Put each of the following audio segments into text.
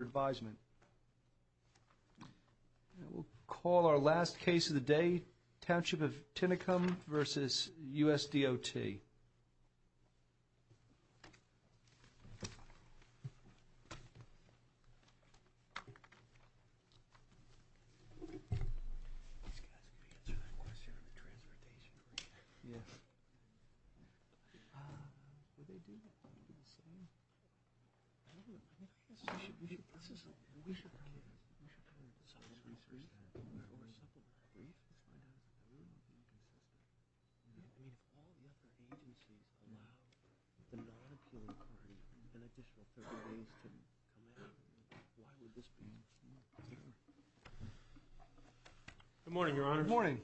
Advisement. We'll call our last case of the day Township of Tinicum v. U.S. DOT. Good morning, your honors. Good morning.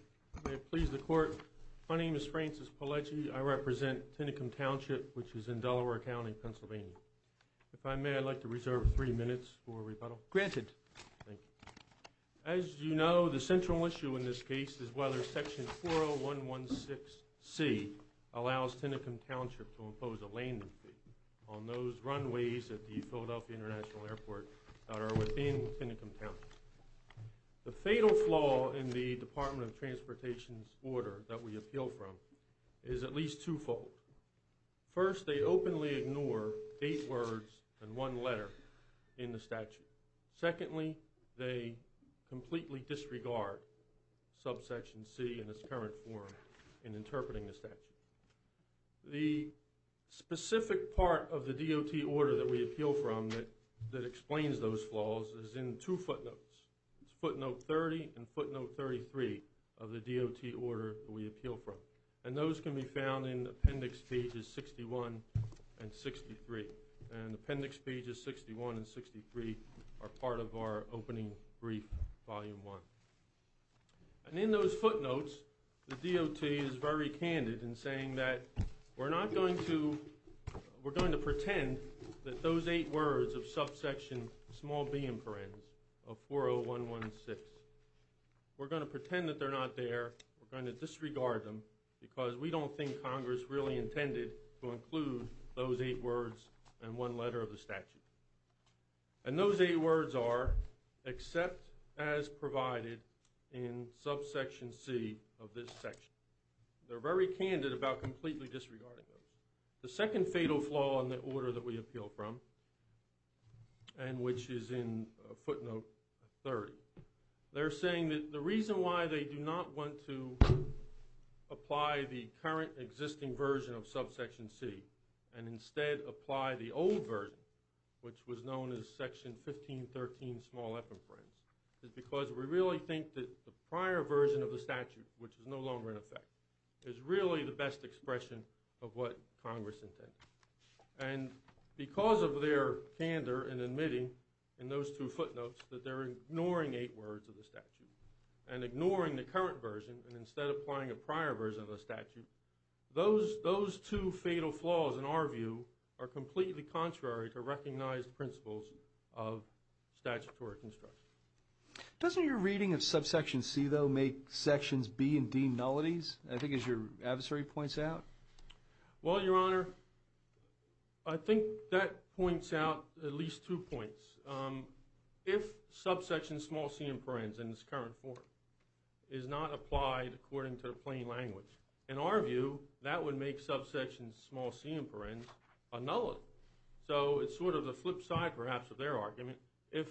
May it please the court, my name is Francis Pelleggi. I represent Tinicum Township, which is in Delaware County, Pennsylvania. If I may, I'd like to reserve three minutes for rebuttal. Granted. Thank you. As you know, the central issue in this case is whether Section 40116C allows Tinicum Township to impose a landing fee on those runways at the Philadelphia International Airport that are within Tinicum Township. The fatal flaw in the Department of Transportation's order that we appeal from is at least twofold. First, they openly ignore eight words and one letter in the statute. Secondly, they completely disregard subsection C in its current form in interpreting the statute. The specific part of the DOT order that we appeal from that explains those flaws is in two footnotes. It's footnote 30 and footnote 33 of the DOT order that we appeal from. And those can be found in Appendix Pages 61 and 63. And Appendix Pages 61 and 63 are part of our opening brief, Volume 1. And in those footnotes, the DOT is very candid in saying that we're not going to, we're going to pretend that those eight words of subsection small b in parens of 40116, we're going to pretend that they're not there, we're going to disregard them because we don't think Congress really intended to include those eight words and one letter of the statute. And those eight words are except as provided in subsection C of this section. They're very candid about completely disregarding those. The second fatal flaw in the order that we appeal from, and which is in footnote 30, they're saying that the reason why they do not want to apply the current existing version of subsection C and instead apply the old version, which was known as Section 1513 small f in parens, is because we really think that the prior version of the statute, which is no longer in effect, is really the best expression of what Congress intended. And because of their candor in admitting in those two footnotes that they're ignoring eight words of the statute and ignoring the current version and instead applying a prior version of the statute, those two fatal flaws, in our view, are completely contrary to recognized principles of statutory construction. Doesn't your reading of subsection C, though, make sections B and D nullities, I think as your adversary points out? Well, subsection small c in parens in its current form is not applied according to the plain language. In our view, that would make subsection small c in parens a nullity. So it's sort of the flip side, perhaps, of their argument. If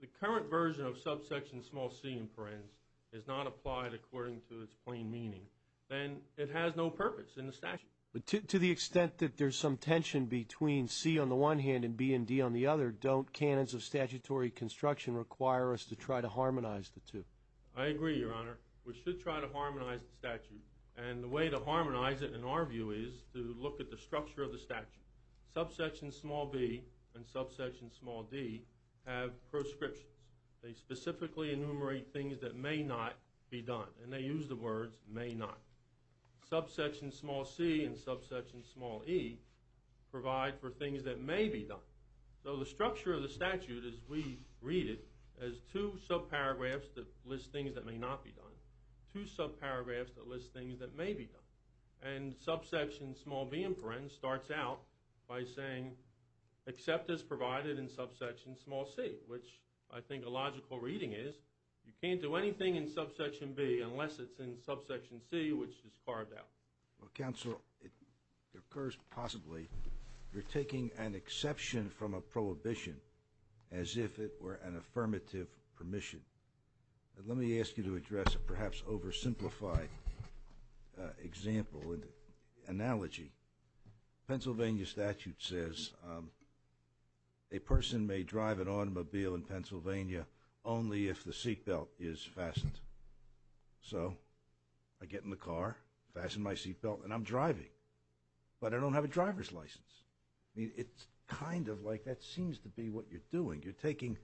the current version of subsection small c in parens is not applied according to its plain meaning, then it has no purpose in the statute. But to the extent that there's some tension between C on the one hand and B and D on the other, don't canons of require us to try to harmonize the two. I agree, Your Honor. We should try to harmonize the statute. And the way to harmonize it, in our view, is to look at the structure of the statute. Subsection small b and subsection small d have proscriptions. They specifically enumerate things that may not be done. And they use the words may not. Subsection small c and subsection small e provide for things that may be done. So the structure of the statute, as we read it, has two subparagraphs that list things that may not be done, two subparagraphs that list things that may be done. And subsection small b in parens starts out by saying, except as provided in subsection small c, which I think a logical reading is, you can't do anything in subsection b unless it's in subsection c, which is carved out. Well, counsel, it occurs possibly you're taking an exception from a prohibition as if it were an affirmative permission. Let me ask you to address a perhaps oversimplified example and analogy. Pennsylvania statute says a person may drive an automobile in Pennsylvania only if the seatbelt is fastened. So I get in the car, fasten my seatbelt, and I'm driving. But I don't have a driver's license. I mean, it's kind of like that seems to be what you're doing. You're taking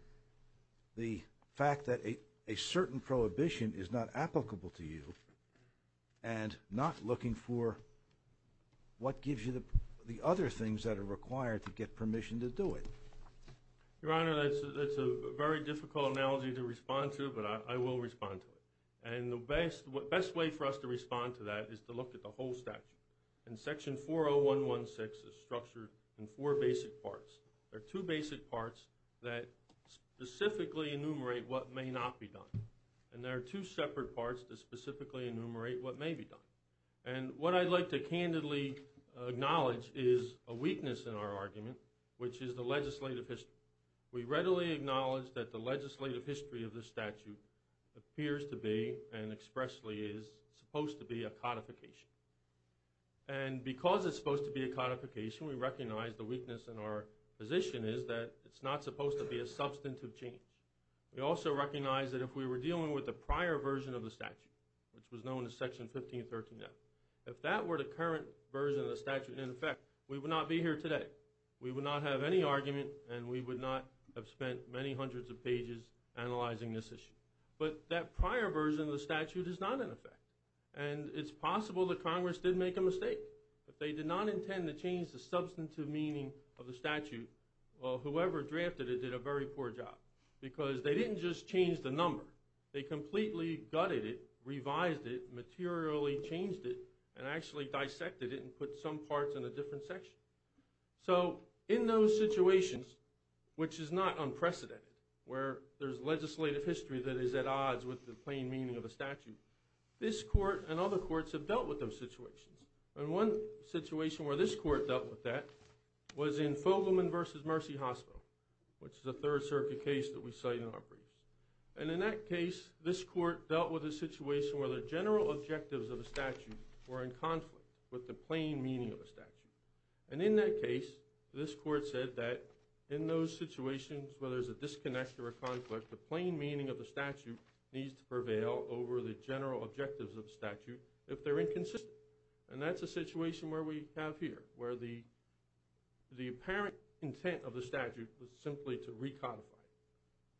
the fact that a certain prohibition is not applicable to you and not looking for what gives you the other things that are required to get permission to do it. Your Honor, that's a very difficult analogy to respond to, but I will respond to it. And the best way for us to respond to that is to look at the whole statute. And section 40116 is structured in four basic parts. There are two basic parts that specifically enumerate what may not be done. And there are two separate parts that specifically enumerate what may be done. And what I'd like to candidly acknowledge is a weakness in our argument, which is the legislative history. We readily acknowledge that the legislative history of the statute appears to be and expressly is supposed to be a codification. And because it's supposed to be a codification, we recognize the weakness in our position is that it's not supposed to be a substantive change. We also recognize that if we were dealing with the prior version of the statute, which was known as section 1513 now, if that were the current version of the statute, in effect, we would not be here today. We would not have any argument and we would not have spent many hundreds of pages analyzing this issue. But that prior version of the statute is not in effect. And it's possible that Congress did make a mistake. If they did not intend to change the substantive meaning of the statute, well, whoever drafted it did a very poor job. Because they didn't just change the number. They completely gutted it, revised it, materially changed it, and actually dissected it and put some parts in a different section. So in those situations, which is not unprecedented, where there's legislative history that is at odds with the plain meaning of the statute, this court and other courts have dealt with those situations. And one situation where this court dealt with that was in Fogelman v. Mercy Hospital, which is a Third Circuit case that we cite in our briefs. And in that case, this court dealt with a situation where the general objectives of the statute were in conflict with the plain meaning of the statute. And in that case, this court said that in those situations where there's a disconnect or a conflict, the plain meaning of the statute needs to prevail over the general objectives of the statute if they're inconsistent. And that's a situation where we have here, where the apparent intent of the statute was simply to recodify it.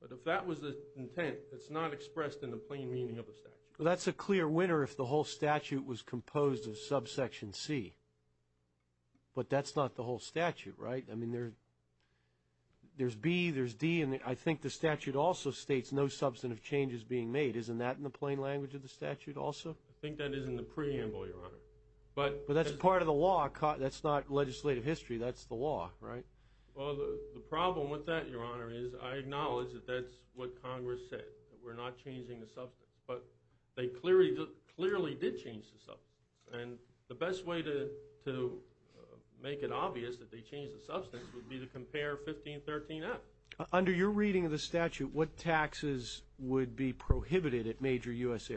But if that was the intent, it's not expressed in the plain meaning of the statute. Well, that's a clear winner if the whole statute was composed of subsection c. But that's not the whole statute, right? I mean, there's b, there's d, and I think the statute also states no substantive changes being made. Isn't that in the plain language of the statute also? I think that is in the preamble, Your Honor. But that's part of the law. That's not legislative history. That's the law, right? Well, the problem with that, Your Honor, is I acknowledge that that's what Congress said, that we're not changing the substance. But they clearly did change the substance. And the best way to make it obvious that they changed the substance would be to compare 1513f. Under your reading of the statute, what taxes would be prohibited at major U.S.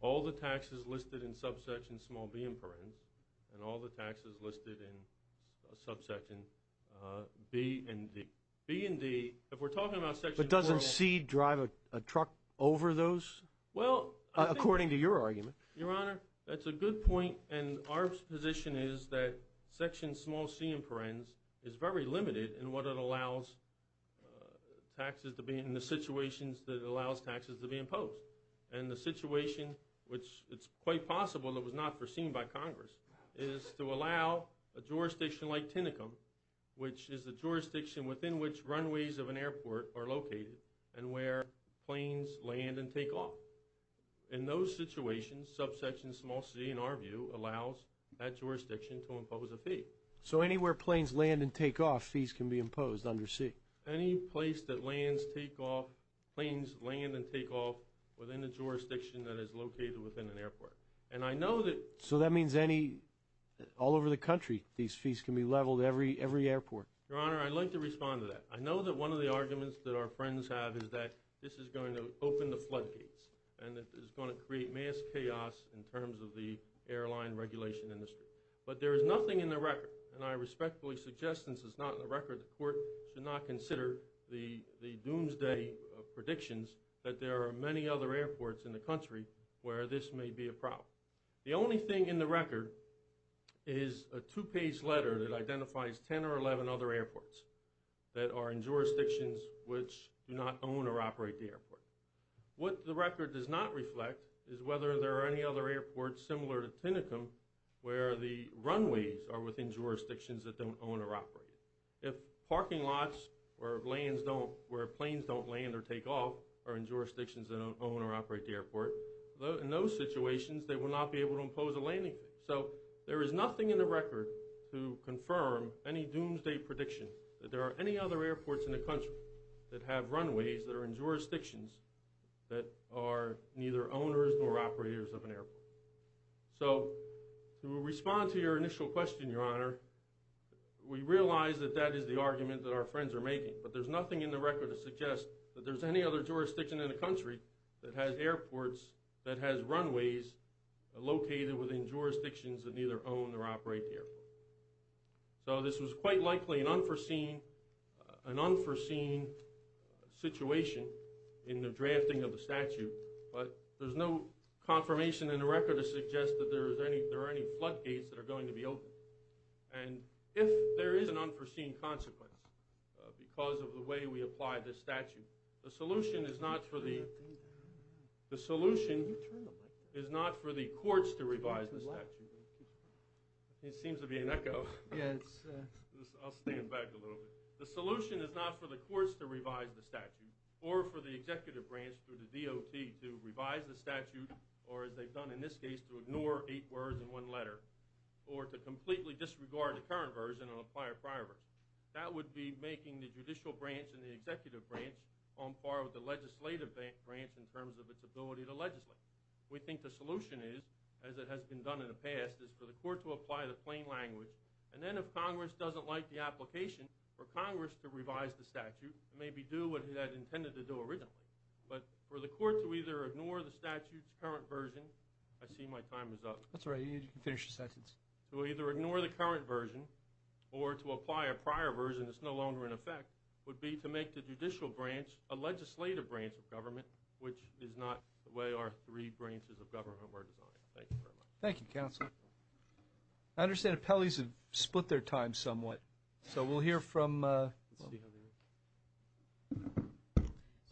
businesses listed in subsection b and d. b and d, if we're talking about section 4... But doesn't c drive a truck over those? Well, I think... According to your argument. Your Honor, that's a good point. And our position is that section small c in parens is very limited in what it allows taxes to be in the situations that allows taxes to be imposed. And the situation, which it's quite possible that was not foreseen by Congress, is to allow a jurisdiction like Tinicum, which is the jurisdiction within which runways of an airport are located and where planes land and take off. In those situations, subsection small c, in our view, allows that jurisdiction to impose a fee. So anywhere planes land and take off, fees can be imposed under c? Any place that lands, take off, planes land and take off within the jurisdiction that is located within an airport. And I know that... So that means any... All over the country, these fees can be leveled every airport? Your Honor, I'd like to respond to that. I know that one of the arguments that our friends have is that this is going to open the floodgates and that is going to create mass chaos in terms of the airline regulation industry. But there is nothing in the record, and I respectfully suggest since it's not in the airports in the country, where this may be a problem. The only thing in the record is a two-page letter that identifies 10 or 11 other airports that are in jurisdictions which do not own or operate the airport. What the record does not reflect is whether there are any other airports similar to Tinicum where the runways are within jurisdictions that don't own or operate. If parking lots or lands don't... Where planes don't land or take off are in jurisdictions that don't own or operate the airport, in those situations they will not be able to impose a landing fee. So there is nothing in the record to confirm any doomsday prediction that there are any other airports in the country that have runways that are in jurisdictions that are neither owners nor operators of an airport. So to respond to your initial question, Your Honor, we realize that that is the argument that our friends are making, but there's nothing in the record to suggest that there's any other jurisdiction in the country that has airports that has runways located within jurisdictions that neither own or operate the airport. So this was quite likely an unforeseen situation in the drafting of the statute, but there's no confirmation in the record to suggest that there are any flood gates that and if there is an unforeseen consequence because of the way we apply this statute, the solution is not for the... the solution is not for the courts to revise the statute. It seems to be an echo. Yes. I'll stand back a little bit. The solution is not for the courts to revise the statute or for the executive branch through the DOT to revise the statute or as they've done in this case to ignore eight words in one letter or to completely disregard the current version and apply a prior version. That would be making the judicial branch and the executive branch on par with the legislative branch in terms of its ability to legislate. We think the solution is, as it has been done in the past, is for the court to apply the plain language and then if Congress doesn't like the application for Congress to revise the statute, maybe do what it had intended to do originally. But for the court to either ignore the statute's version... I see my time is up. That's all right. You can finish your sentence. To either ignore the current version or to apply a prior version that's no longer in effect would be to make the judicial branch a legislative branch of government, which is not the way our three branches of government were designed. Thank you very much. Thank you, counsel. I understand appellees have split their time somewhat, so we'll hear from...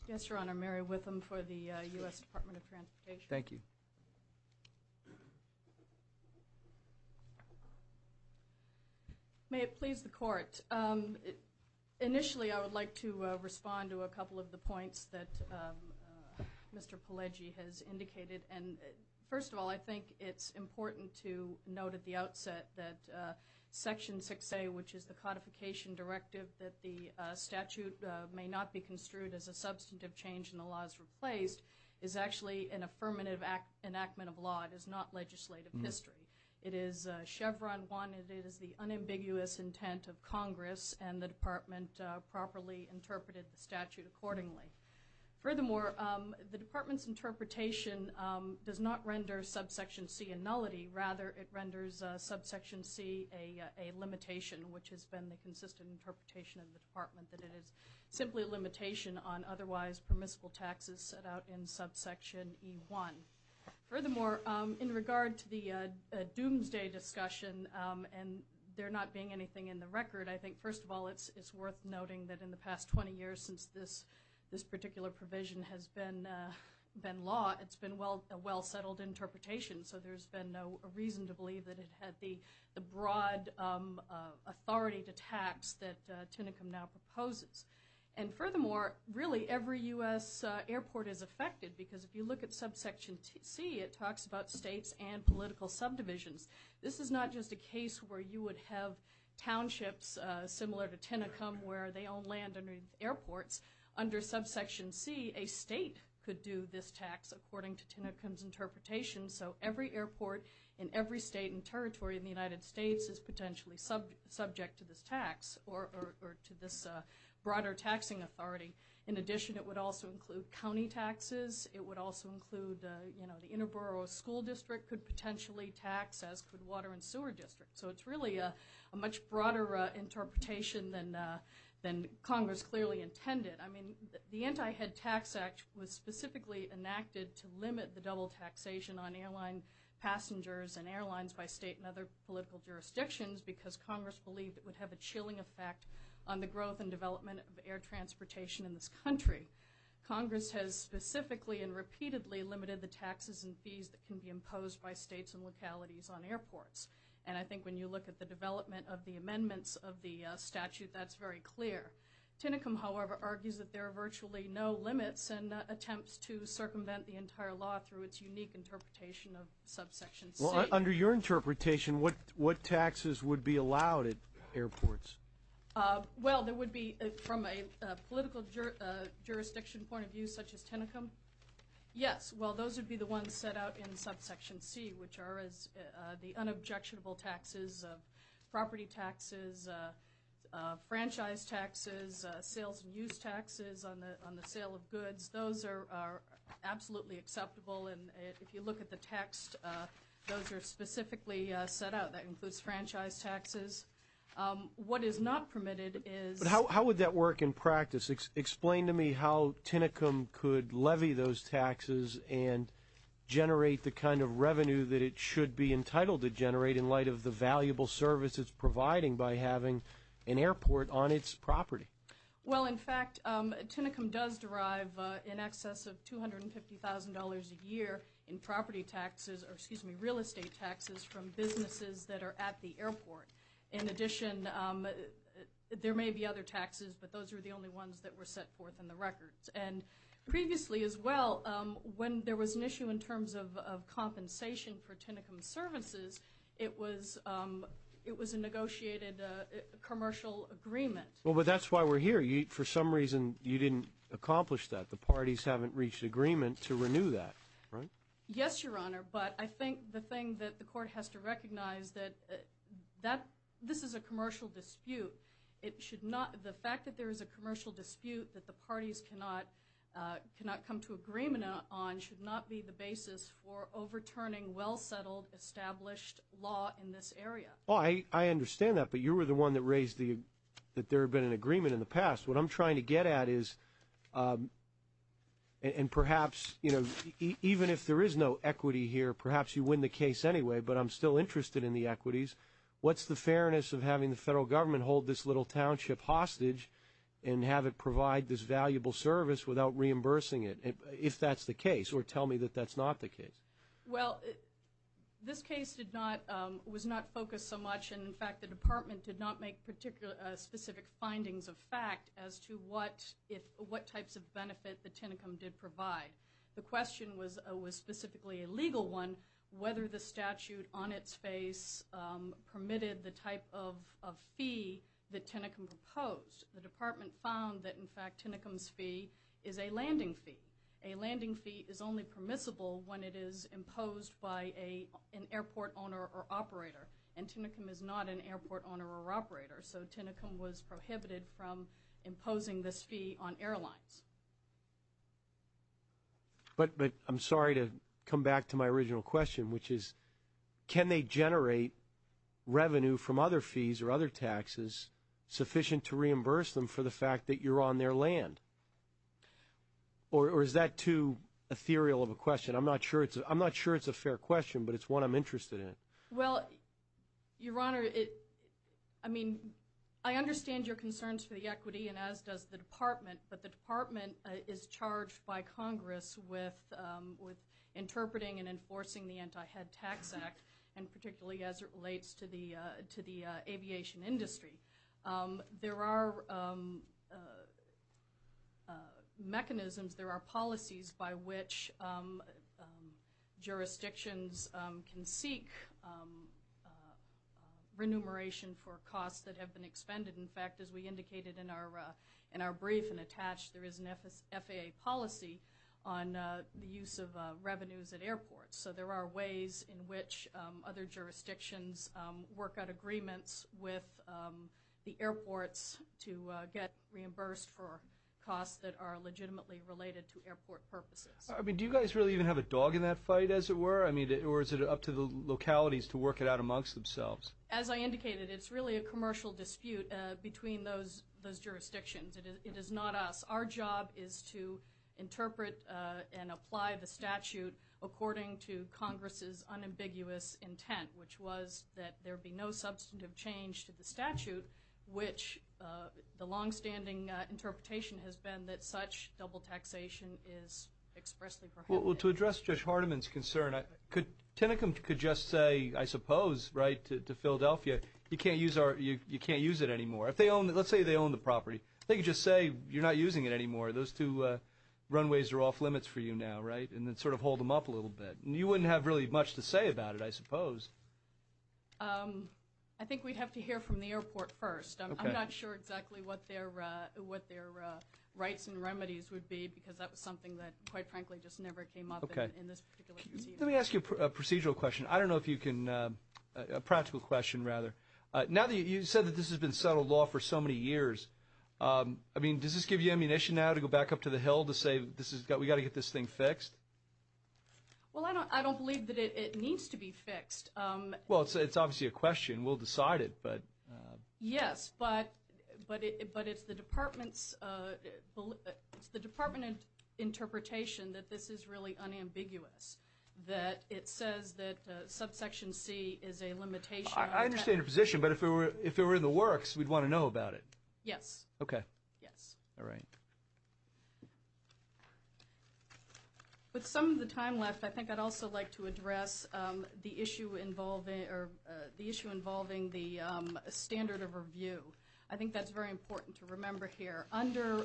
Yes, your honor. Mary Witham for the U.S. Department of Transportation. Thank you. May it please the court. Initially, I would like to respond to a couple of the points that Mr. Pelleggi has indicated. First of all, I think it's important to note at the outset that Section 6A, which is the codification directive that the statute may not be construed as a affirmative enactment of law. It is not legislative history. It is Chevron 1. It is the unambiguous intent of Congress, and the department properly interpreted the statute accordingly. Furthermore, the department's interpretation does not render Subsection C a nullity. Rather, it renders Subsection C a limitation, which has been the consistent interpretation of the department, that it is simply a limitation on otherwise permissible taxes set out in Subsection E1. Furthermore, in regard to the doomsday discussion, and there not being anything in the record, I think, first of all, it's worth noting that in the past 20 years since this particular provision has been law, it's been a well-settled interpretation, so there's been no reason to believe that it had the broad authority to tax that Tinicum now proposes. And furthermore, really every U.S. airport is affected, because if you look at Subsection C, it talks about states and political subdivisions. This is not just a case where you would have townships similar to Tinicum, where they own land underneath airports. Under Subsection C, a state could do this tax according to Tinicum's interpretation, so every airport in every state and territory in the United States is potentially subject to this tax, or to this broader taxing authority. In addition, it would also include county taxes. It would also include, you know, the inter-borough school district could potentially tax, as could water and sewer districts. So it's really a much broader interpretation than Congress clearly intended. I mean, the Anti-Head Tax Act was specifically enacted to limit the double taxation on airline passengers and airlines by state and other political jurisdictions, because Congress believed it would have a chilling effect on the growth and development of air transportation in this country. Congress has specifically and repeatedly limited the taxes and fees that can be imposed by states and localities on airports, and I think when you look at the development of the amendments of the statute, that's very clear. Tinicum, however, argues that there are virtually no limits and attempts to circumvent the entire law through its unique interpretation of Subsection C. Well, under your interpretation, what taxes would be allowed at airports? Well, there would be, from a political jurisdiction point of view, such as Tinicum? Yes. Well, those would be the ones set out in Subsection C, which are the unobjectionable taxes of property taxes, franchise taxes, sales and use taxes on the sale of goods. Those are absolutely acceptable, and if you look at the text, those are specifically set out. That includes franchise taxes. What is not permitted is... But how would that work in should be entitled to generate in light of the valuable service it's providing by having an airport on its property? Well, in fact, Tinicum does derive in excess of $250,000 a year in property taxes, or excuse me, real estate taxes from businesses that are at the airport. In addition, there may be other taxes, but those are the only ones that were set forth in the Tinicum services. It was a negotiated commercial agreement. Well, but that's why we're here. For some reason, you didn't accomplish that. The parties haven't reached agreement to renew that, right? Yes, Your Honor, but I think the thing that the Court has to recognize that this is a commercial dispute. It should not... The fact that there is a commercial dispute that parties cannot come to agreement on should not be the basis for overturning well-settled, established law in this area. I understand that, but you were the one that raised that there had been an agreement in the past. What I'm trying to get at is, and perhaps, you know, even if there is no equity here, perhaps you win the case anyway, but I'm still interested in the equities. What's the fairness of having the federal government hold this little township hostage and have it provide this valuable service without reimbursing it, if that's the case, or tell me that that's not the case? Well, this case was not focused so much, and in fact, the Department did not make specific findings of fact as to what types of benefit the Tinicum did provide. The question was specifically a legal one, whether the statute on its face permitted the type of fee that Tinicum proposed. The Department found that, in fact, Tinicum's fee is a landing fee. A landing fee is only permissible when it is imposed by an airport owner or operator, and Tinicum is not an airport owner or operator, so Tinicum was prohibited from imposing this fee on airlines. But I'm sorry to come back to my original question, which is, can they generate revenue from other fees or other taxes sufficient to reimburse them for the fact that you're on their land? Or is that too ethereal of a question? I'm not sure it's a fair question, but it's one I'm interested in. Well, Your Honor, I mean, I understand your concerns for the equity, and as does the Department, but the Department is charged by Congress with interpreting and particularly as it relates to the aviation industry. There are mechanisms, there are policies by which jurisdictions can seek remuneration for costs that have been expended. In fact, as we indicated in our brief and attached, there is an FAA policy on the use of revenues at airports, so there are ways in which other jurisdictions work out agreements with the airports to get reimbursed for costs that are legitimately related to airport purposes. I mean, do you guys really even have a dog in that fight, as it were? I mean, or is it up to the localities to work it out amongst themselves? As I indicated, it's really a commercial dispute between those jurisdictions. It is not us. Our job is to interpret and apply the statute according to Congress's unambiguous intent, which was that there be no substantive change to the statute, which the longstanding interpretation has been that such double taxation is expressly prohibited. Well, to address Judge Hardiman's concern, Tinicum could just say, I suppose, right, to Philadelphia, you can't use it anymore. Let's say they own the property. They could just say, you're not using it anymore. Those two runways are off limits for you now, right, and then sort of hold them up a little bit. You wouldn't have really much to say about it, I suppose. I think we'd have to hear from the airport first. I'm not sure exactly what their rights and remedies would be, because that was something that, quite frankly, just never came up in this particular case. Let me ask you a procedural question. I don't know if you can, a practical question, rather. Now that you said that this has been settled law for so many years, I mean, does this give you ammunition now to go back up to the Hill to say, we've got to get this thing fixed? Well, I don't believe that it needs to be fixed. Well, it's obviously a question. We'll decide it, but. Yes, but it's the Department's, it's the Department of Interpretation that this is really unambiguous, that it says that subsection c is a limitation. I understand your position, but if we were, if it were in the works, we'd want to know about it. Yes. Okay. Yes. All right. With some of the time left, I think I'd also like to address the issue involving, or the issue involving the standard of review. I think that's very important to remember here. Under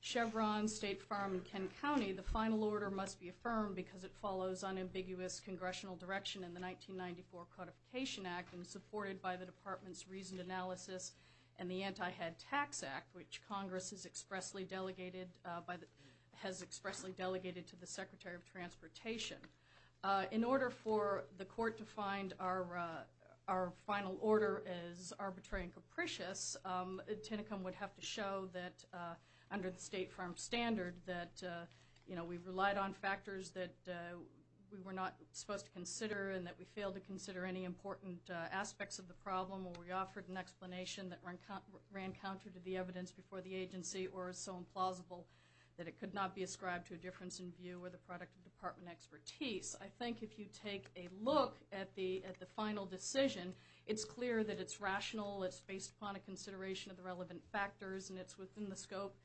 Chevron, State Farm, and Kent County, the final order must be affirmed because it follows unambiguous congressional direction in the 1994 Codification Act and supported by the Department's Reasoned Analysis and the Anti-Head Tax Act, which Congress has expressly delegated to the Secretary of Transportation. In order for the court to find our final order as arbitrary and capricious, Tinicum would have to show that, under the State Farm standard, that, you know, we relied on factors that we were not supposed to consider and that we failed to consider any important aspects of the problem, or we offered an explanation that ran counter to the evidence before the agency or is so implausible that it could not be ascribed to a difference in view or the product of Department expertise. I think if you take a look at the final decision, it's clear that it's rational, it's based upon a consideration of the relevant factors, and it's within the scope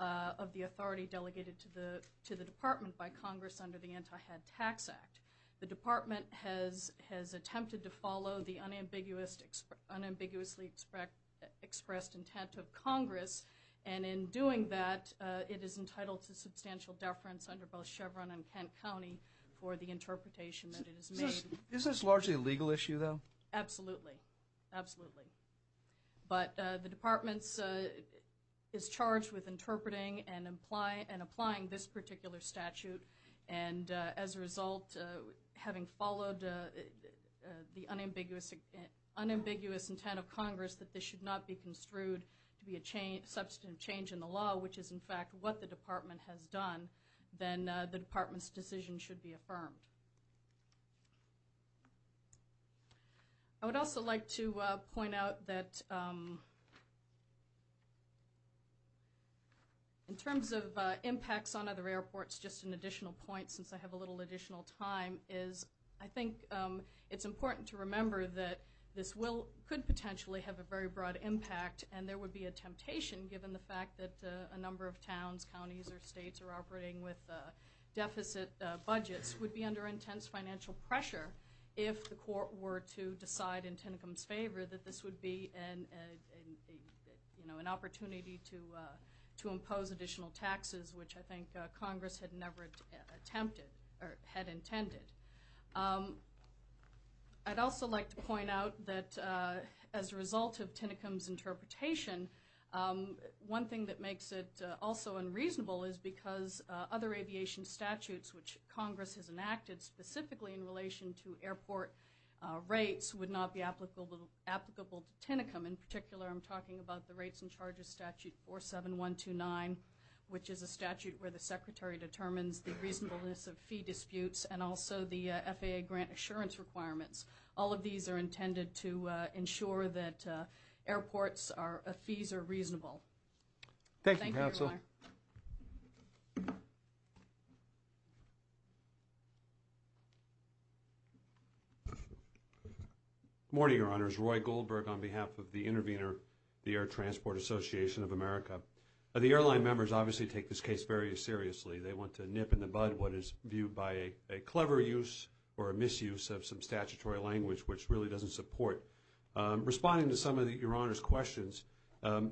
of the authority delegated to the Department by Congress under the Anti-Head Tax Act. The Department has attempted to follow the unambiguously expressed intent of Congress, and in doing that, it is entitled to substantial deference under both Chevron and Kent County for the interpretation that it has made. Is this largely a legal issue, though? Absolutely. Absolutely. But the Department is charged with interpreting and applying this particular statute, and as a result, having followed the unambiguous intent of Congress that this should not be construed to be a substantive change in the law, which is, in fact, what the Department has done, then the Department's decision should be affirmed. I would also like to point out that in terms of impacts on other airports, just an additional point, since I have a little additional time, is I think it's important to remember that this could potentially have a very or operating with deficit budgets would be under intense financial pressure if the court were to decide in Tinicum's favor that this would be an opportunity to impose additional taxes, which I think Congress had never attempted or had intended. I'd also like to point out that as a result of Tinicum's interpretation, one thing that makes it also unreasonable is because other aviation statutes which Congress has enacted specifically in relation to airport rates would not be applicable to Tinicum. In particular, I'm talking about the rates and charges statute 47129, which is a statute where the Secretary determines the reasonableness of ensuring that airports' fees are reasonable. Thank you, Your Honor. Thank you, Counsel. Good morning, Your Honors. Roy Goldberg on behalf of the Intervenor, the Air Transport Association of America. The airline members obviously take this case very seriously. They want to nip in the bud what is viewed by a clever use or a misuse of some of the language. Responding to some of Your Honor's questions,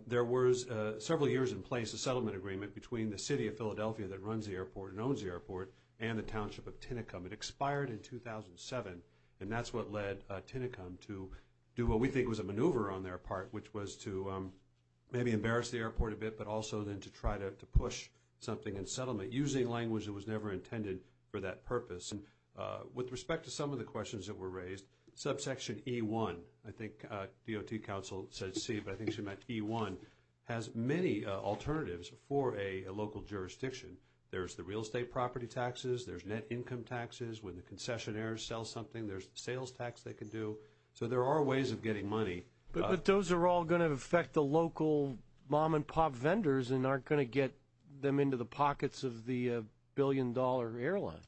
there was several years in place a settlement agreement between the city of Philadelphia that runs the airport and owns the airport and the township of Tinicum. It expired in 2007, and that's what led Tinicum to do what we think was a maneuver on their part, which was to maybe embarrass the airport a bit, but also then to try to push something in settlement using language that was never intended for that purpose. With respect to some of the questions that were raised, subsection E-1, I think DOT counsel said C, but I think she meant E-1, has many alternatives for a local jurisdiction. There's the real estate property taxes. There's net income taxes. When the concessionaires sell something, there's sales tax they can do. So there are ways of getting money. But those are all going to affect the local mom-and-pop vendors and aren't going to get them into the pockets of the billion-dollar airlines.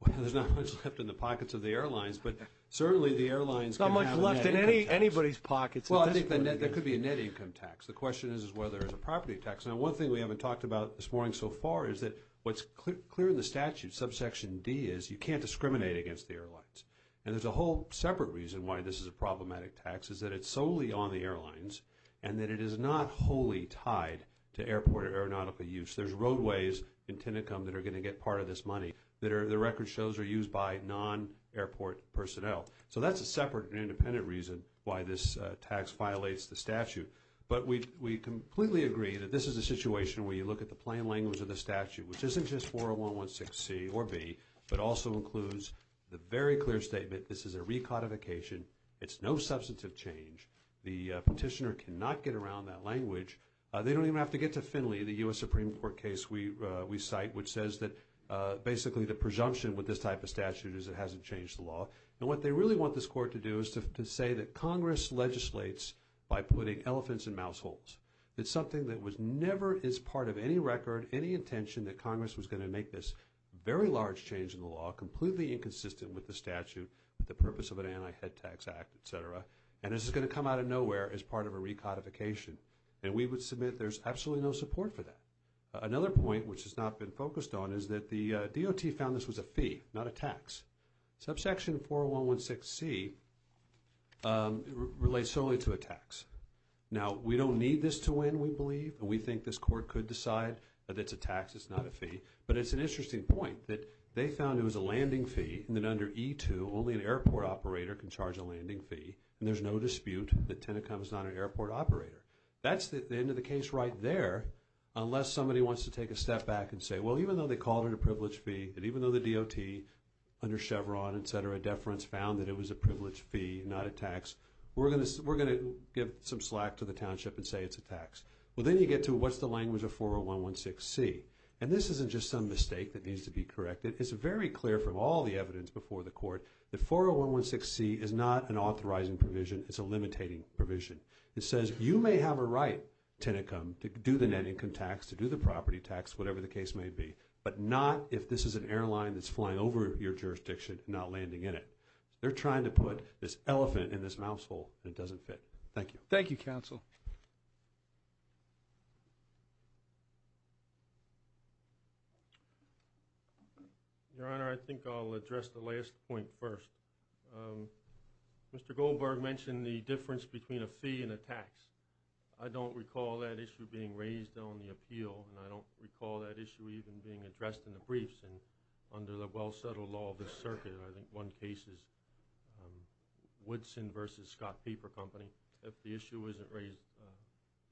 Well, there's not much left in the pockets of the airlines, but certainly the airlines can have a net income tax. There's not much left in anybody's pockets. Well, I think there could be a net income tax. The question is whether there's a property tax. Now, one thing we haven't talked about this morning so far is that what's clear in the statute, subsection D, is you can't discriminate against the airlines. And there's a whole separate reason why this is a problematic tax is that it's solely on the airlines and that it is not wholly tied to airport or aeronautical use. There's roadways in Tinicum that are going to get part of this money that the record shows are used by non-airport personnel. So that's a separate and independent reason why this tax violates the statute. But we completely agree that this is a situation where you look at the plain language of the statute, which isn't just 401, 116C or B, but also includes the very clear statement, this is a recodification. It's no substantive change. The petitioner cannot get around that language. They don't even have to get to Finley, the U.S. Supreme Court case we cite, which says that basically the presumption with this type of statute is it hasn't changed the law. And what they really want this court to do is to say that Congress legislates by putting elephants in mouse holes. It's something that was never as part of any record, any intention that Congress was going to make this very large change in the law, completely inconsistent with the statute, with the purpose of an anti-head tax act, et cetera. And this is going to come out of nowhere as part of a recodification. And we would submit there's absolutely no support for that. Another point which has not been focused on is that the DOT found this was a fee, not a tax. Subsection 401, 116C relates solely to a tax. Now, we don't need this to win, we believe. We think this court could decide that it's a tax, it's not a fee. But it's an interesting point that they found it was a landing fee and that under E2, only an airport operator can charge a landing fee. And there's no dispute that Tennecom is not an airport operator. That's the end of the case right there, unless somebody wants to take a step back and say, well, even though they called it a privilege fee, and even though the DOT under Chevron, et cetera, deference found that it was a privilege fee, not a tax, we're going to give some slack to the township and say it's a tax. Well, then you get to what's the language of 401, 116C. And this isn't just some mistake that needs to be corrected. It's very clear from all the evidence before the court that 401, 116C is not an authorizing provision, it's a limitating provision. It says you may have a right, Tennecom, to do the net income tax, to do the property tax, whatever the case may be, but not if this is an airline that's flying over your jurisdiction and not landing in it. They're trying to put this elephant in this mouse hole and it doesn't fit. Thank you. Thank you, counsel. Your Honor, I think I'll address the last point first. Mr. Goldberg mentioned the difference between a fee and a tax. I don't recall that issue being raised on the appeal and I don't recall that issue even being addressed in the briefs. And under the well-settled law of the circuit, I think one case is Woodson v. Scott Paper Company. If the issue isn't raised,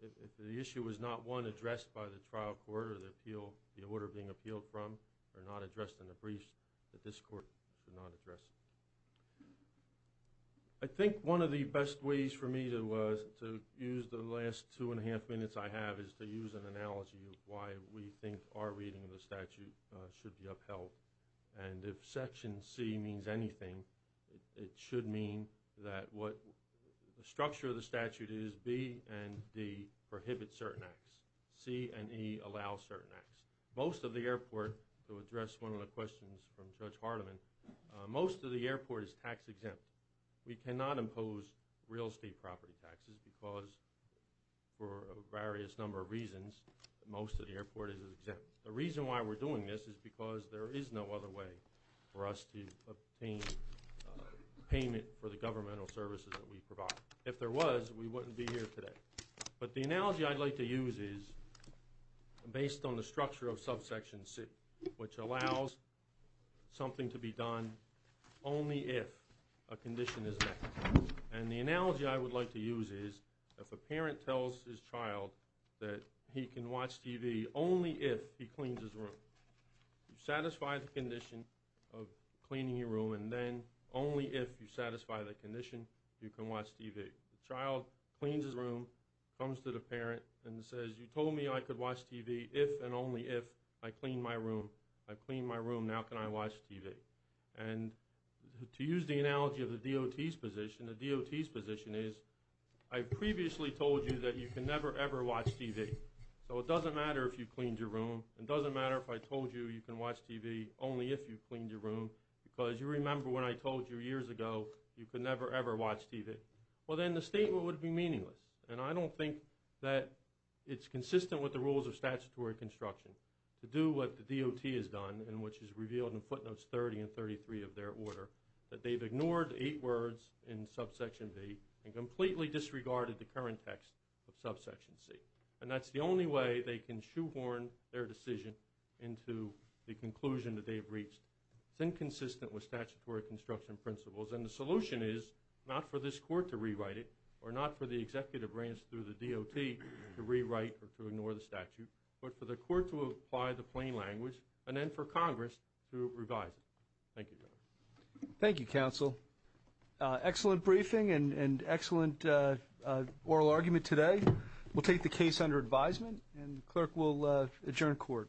if the issue is not one addressed by the trial court or the appeal, the order being appealed from, or not addressed in the briefs, that this court should not address. I think one of the best ways for me to use the last two and a half minutes I have is to use an analogy of why we think our reading of the statute should be upheld. And if Section C means anything, it should mean that what the structure of the statute is B and D prohibit certain acts. C and E allow certain acts. Most of the airport, to address one of the questions from Judge Hardiman, most of the airport is tax exempt. We cannot impose real estate property taxes because, for a various number of reasons, most of the airport is The reason why we're doing this is because there is no other way for us to obtain payment for the governmental services that we provide. If there was, we wouldn't be here today. But the analogy I'd like to use is based on the structure of Subsection C, which allows something to be done only if a condition is met. And the analogy I would like to use is if a parent tells his child that he can watch TV only if he cleans his room. You satisfy the condition of cleaning your room, and then only if you satisfy the condition you can watch TV. The child cleans his room, comes to the parent, and says, you told me I could watch TV if and only if I clean my room. I've cleaned my room. Now can I watch TV? And to use the analogy of the DOT's position, the DOT's position is, I previously told you that you can never ever watch TV. So it doesn't matter if you cleaned your room. It doesn't matter if I told you you can watch TV only if you cleaned your room. Because you remember when I told you years ago you could never ever watch TV. Well then the statement would be meaningless. And I don't think that it's consistent with the rules of statutory construction to do what the DOT has done, and which is revealed in footnotes 30 and 33 of their order, that they've ignored eight words in subsection B and completely disregarded the current text of subsection C. And that's the only way they can shoehorn their decision into the conclusion that they have reached. It's inconsistent with statutory construction principles. And the solution is not for this court to rewrite it, or not for the executive branch through the DOT to rewrite or to ignore the statute, but for the court to apply the plain language, and then for Congress to revise it. Thank you. Thank you counsel. Excellent briefing and excellent oral argument today. We'll take the case under advisement and the clerk will adjourn court.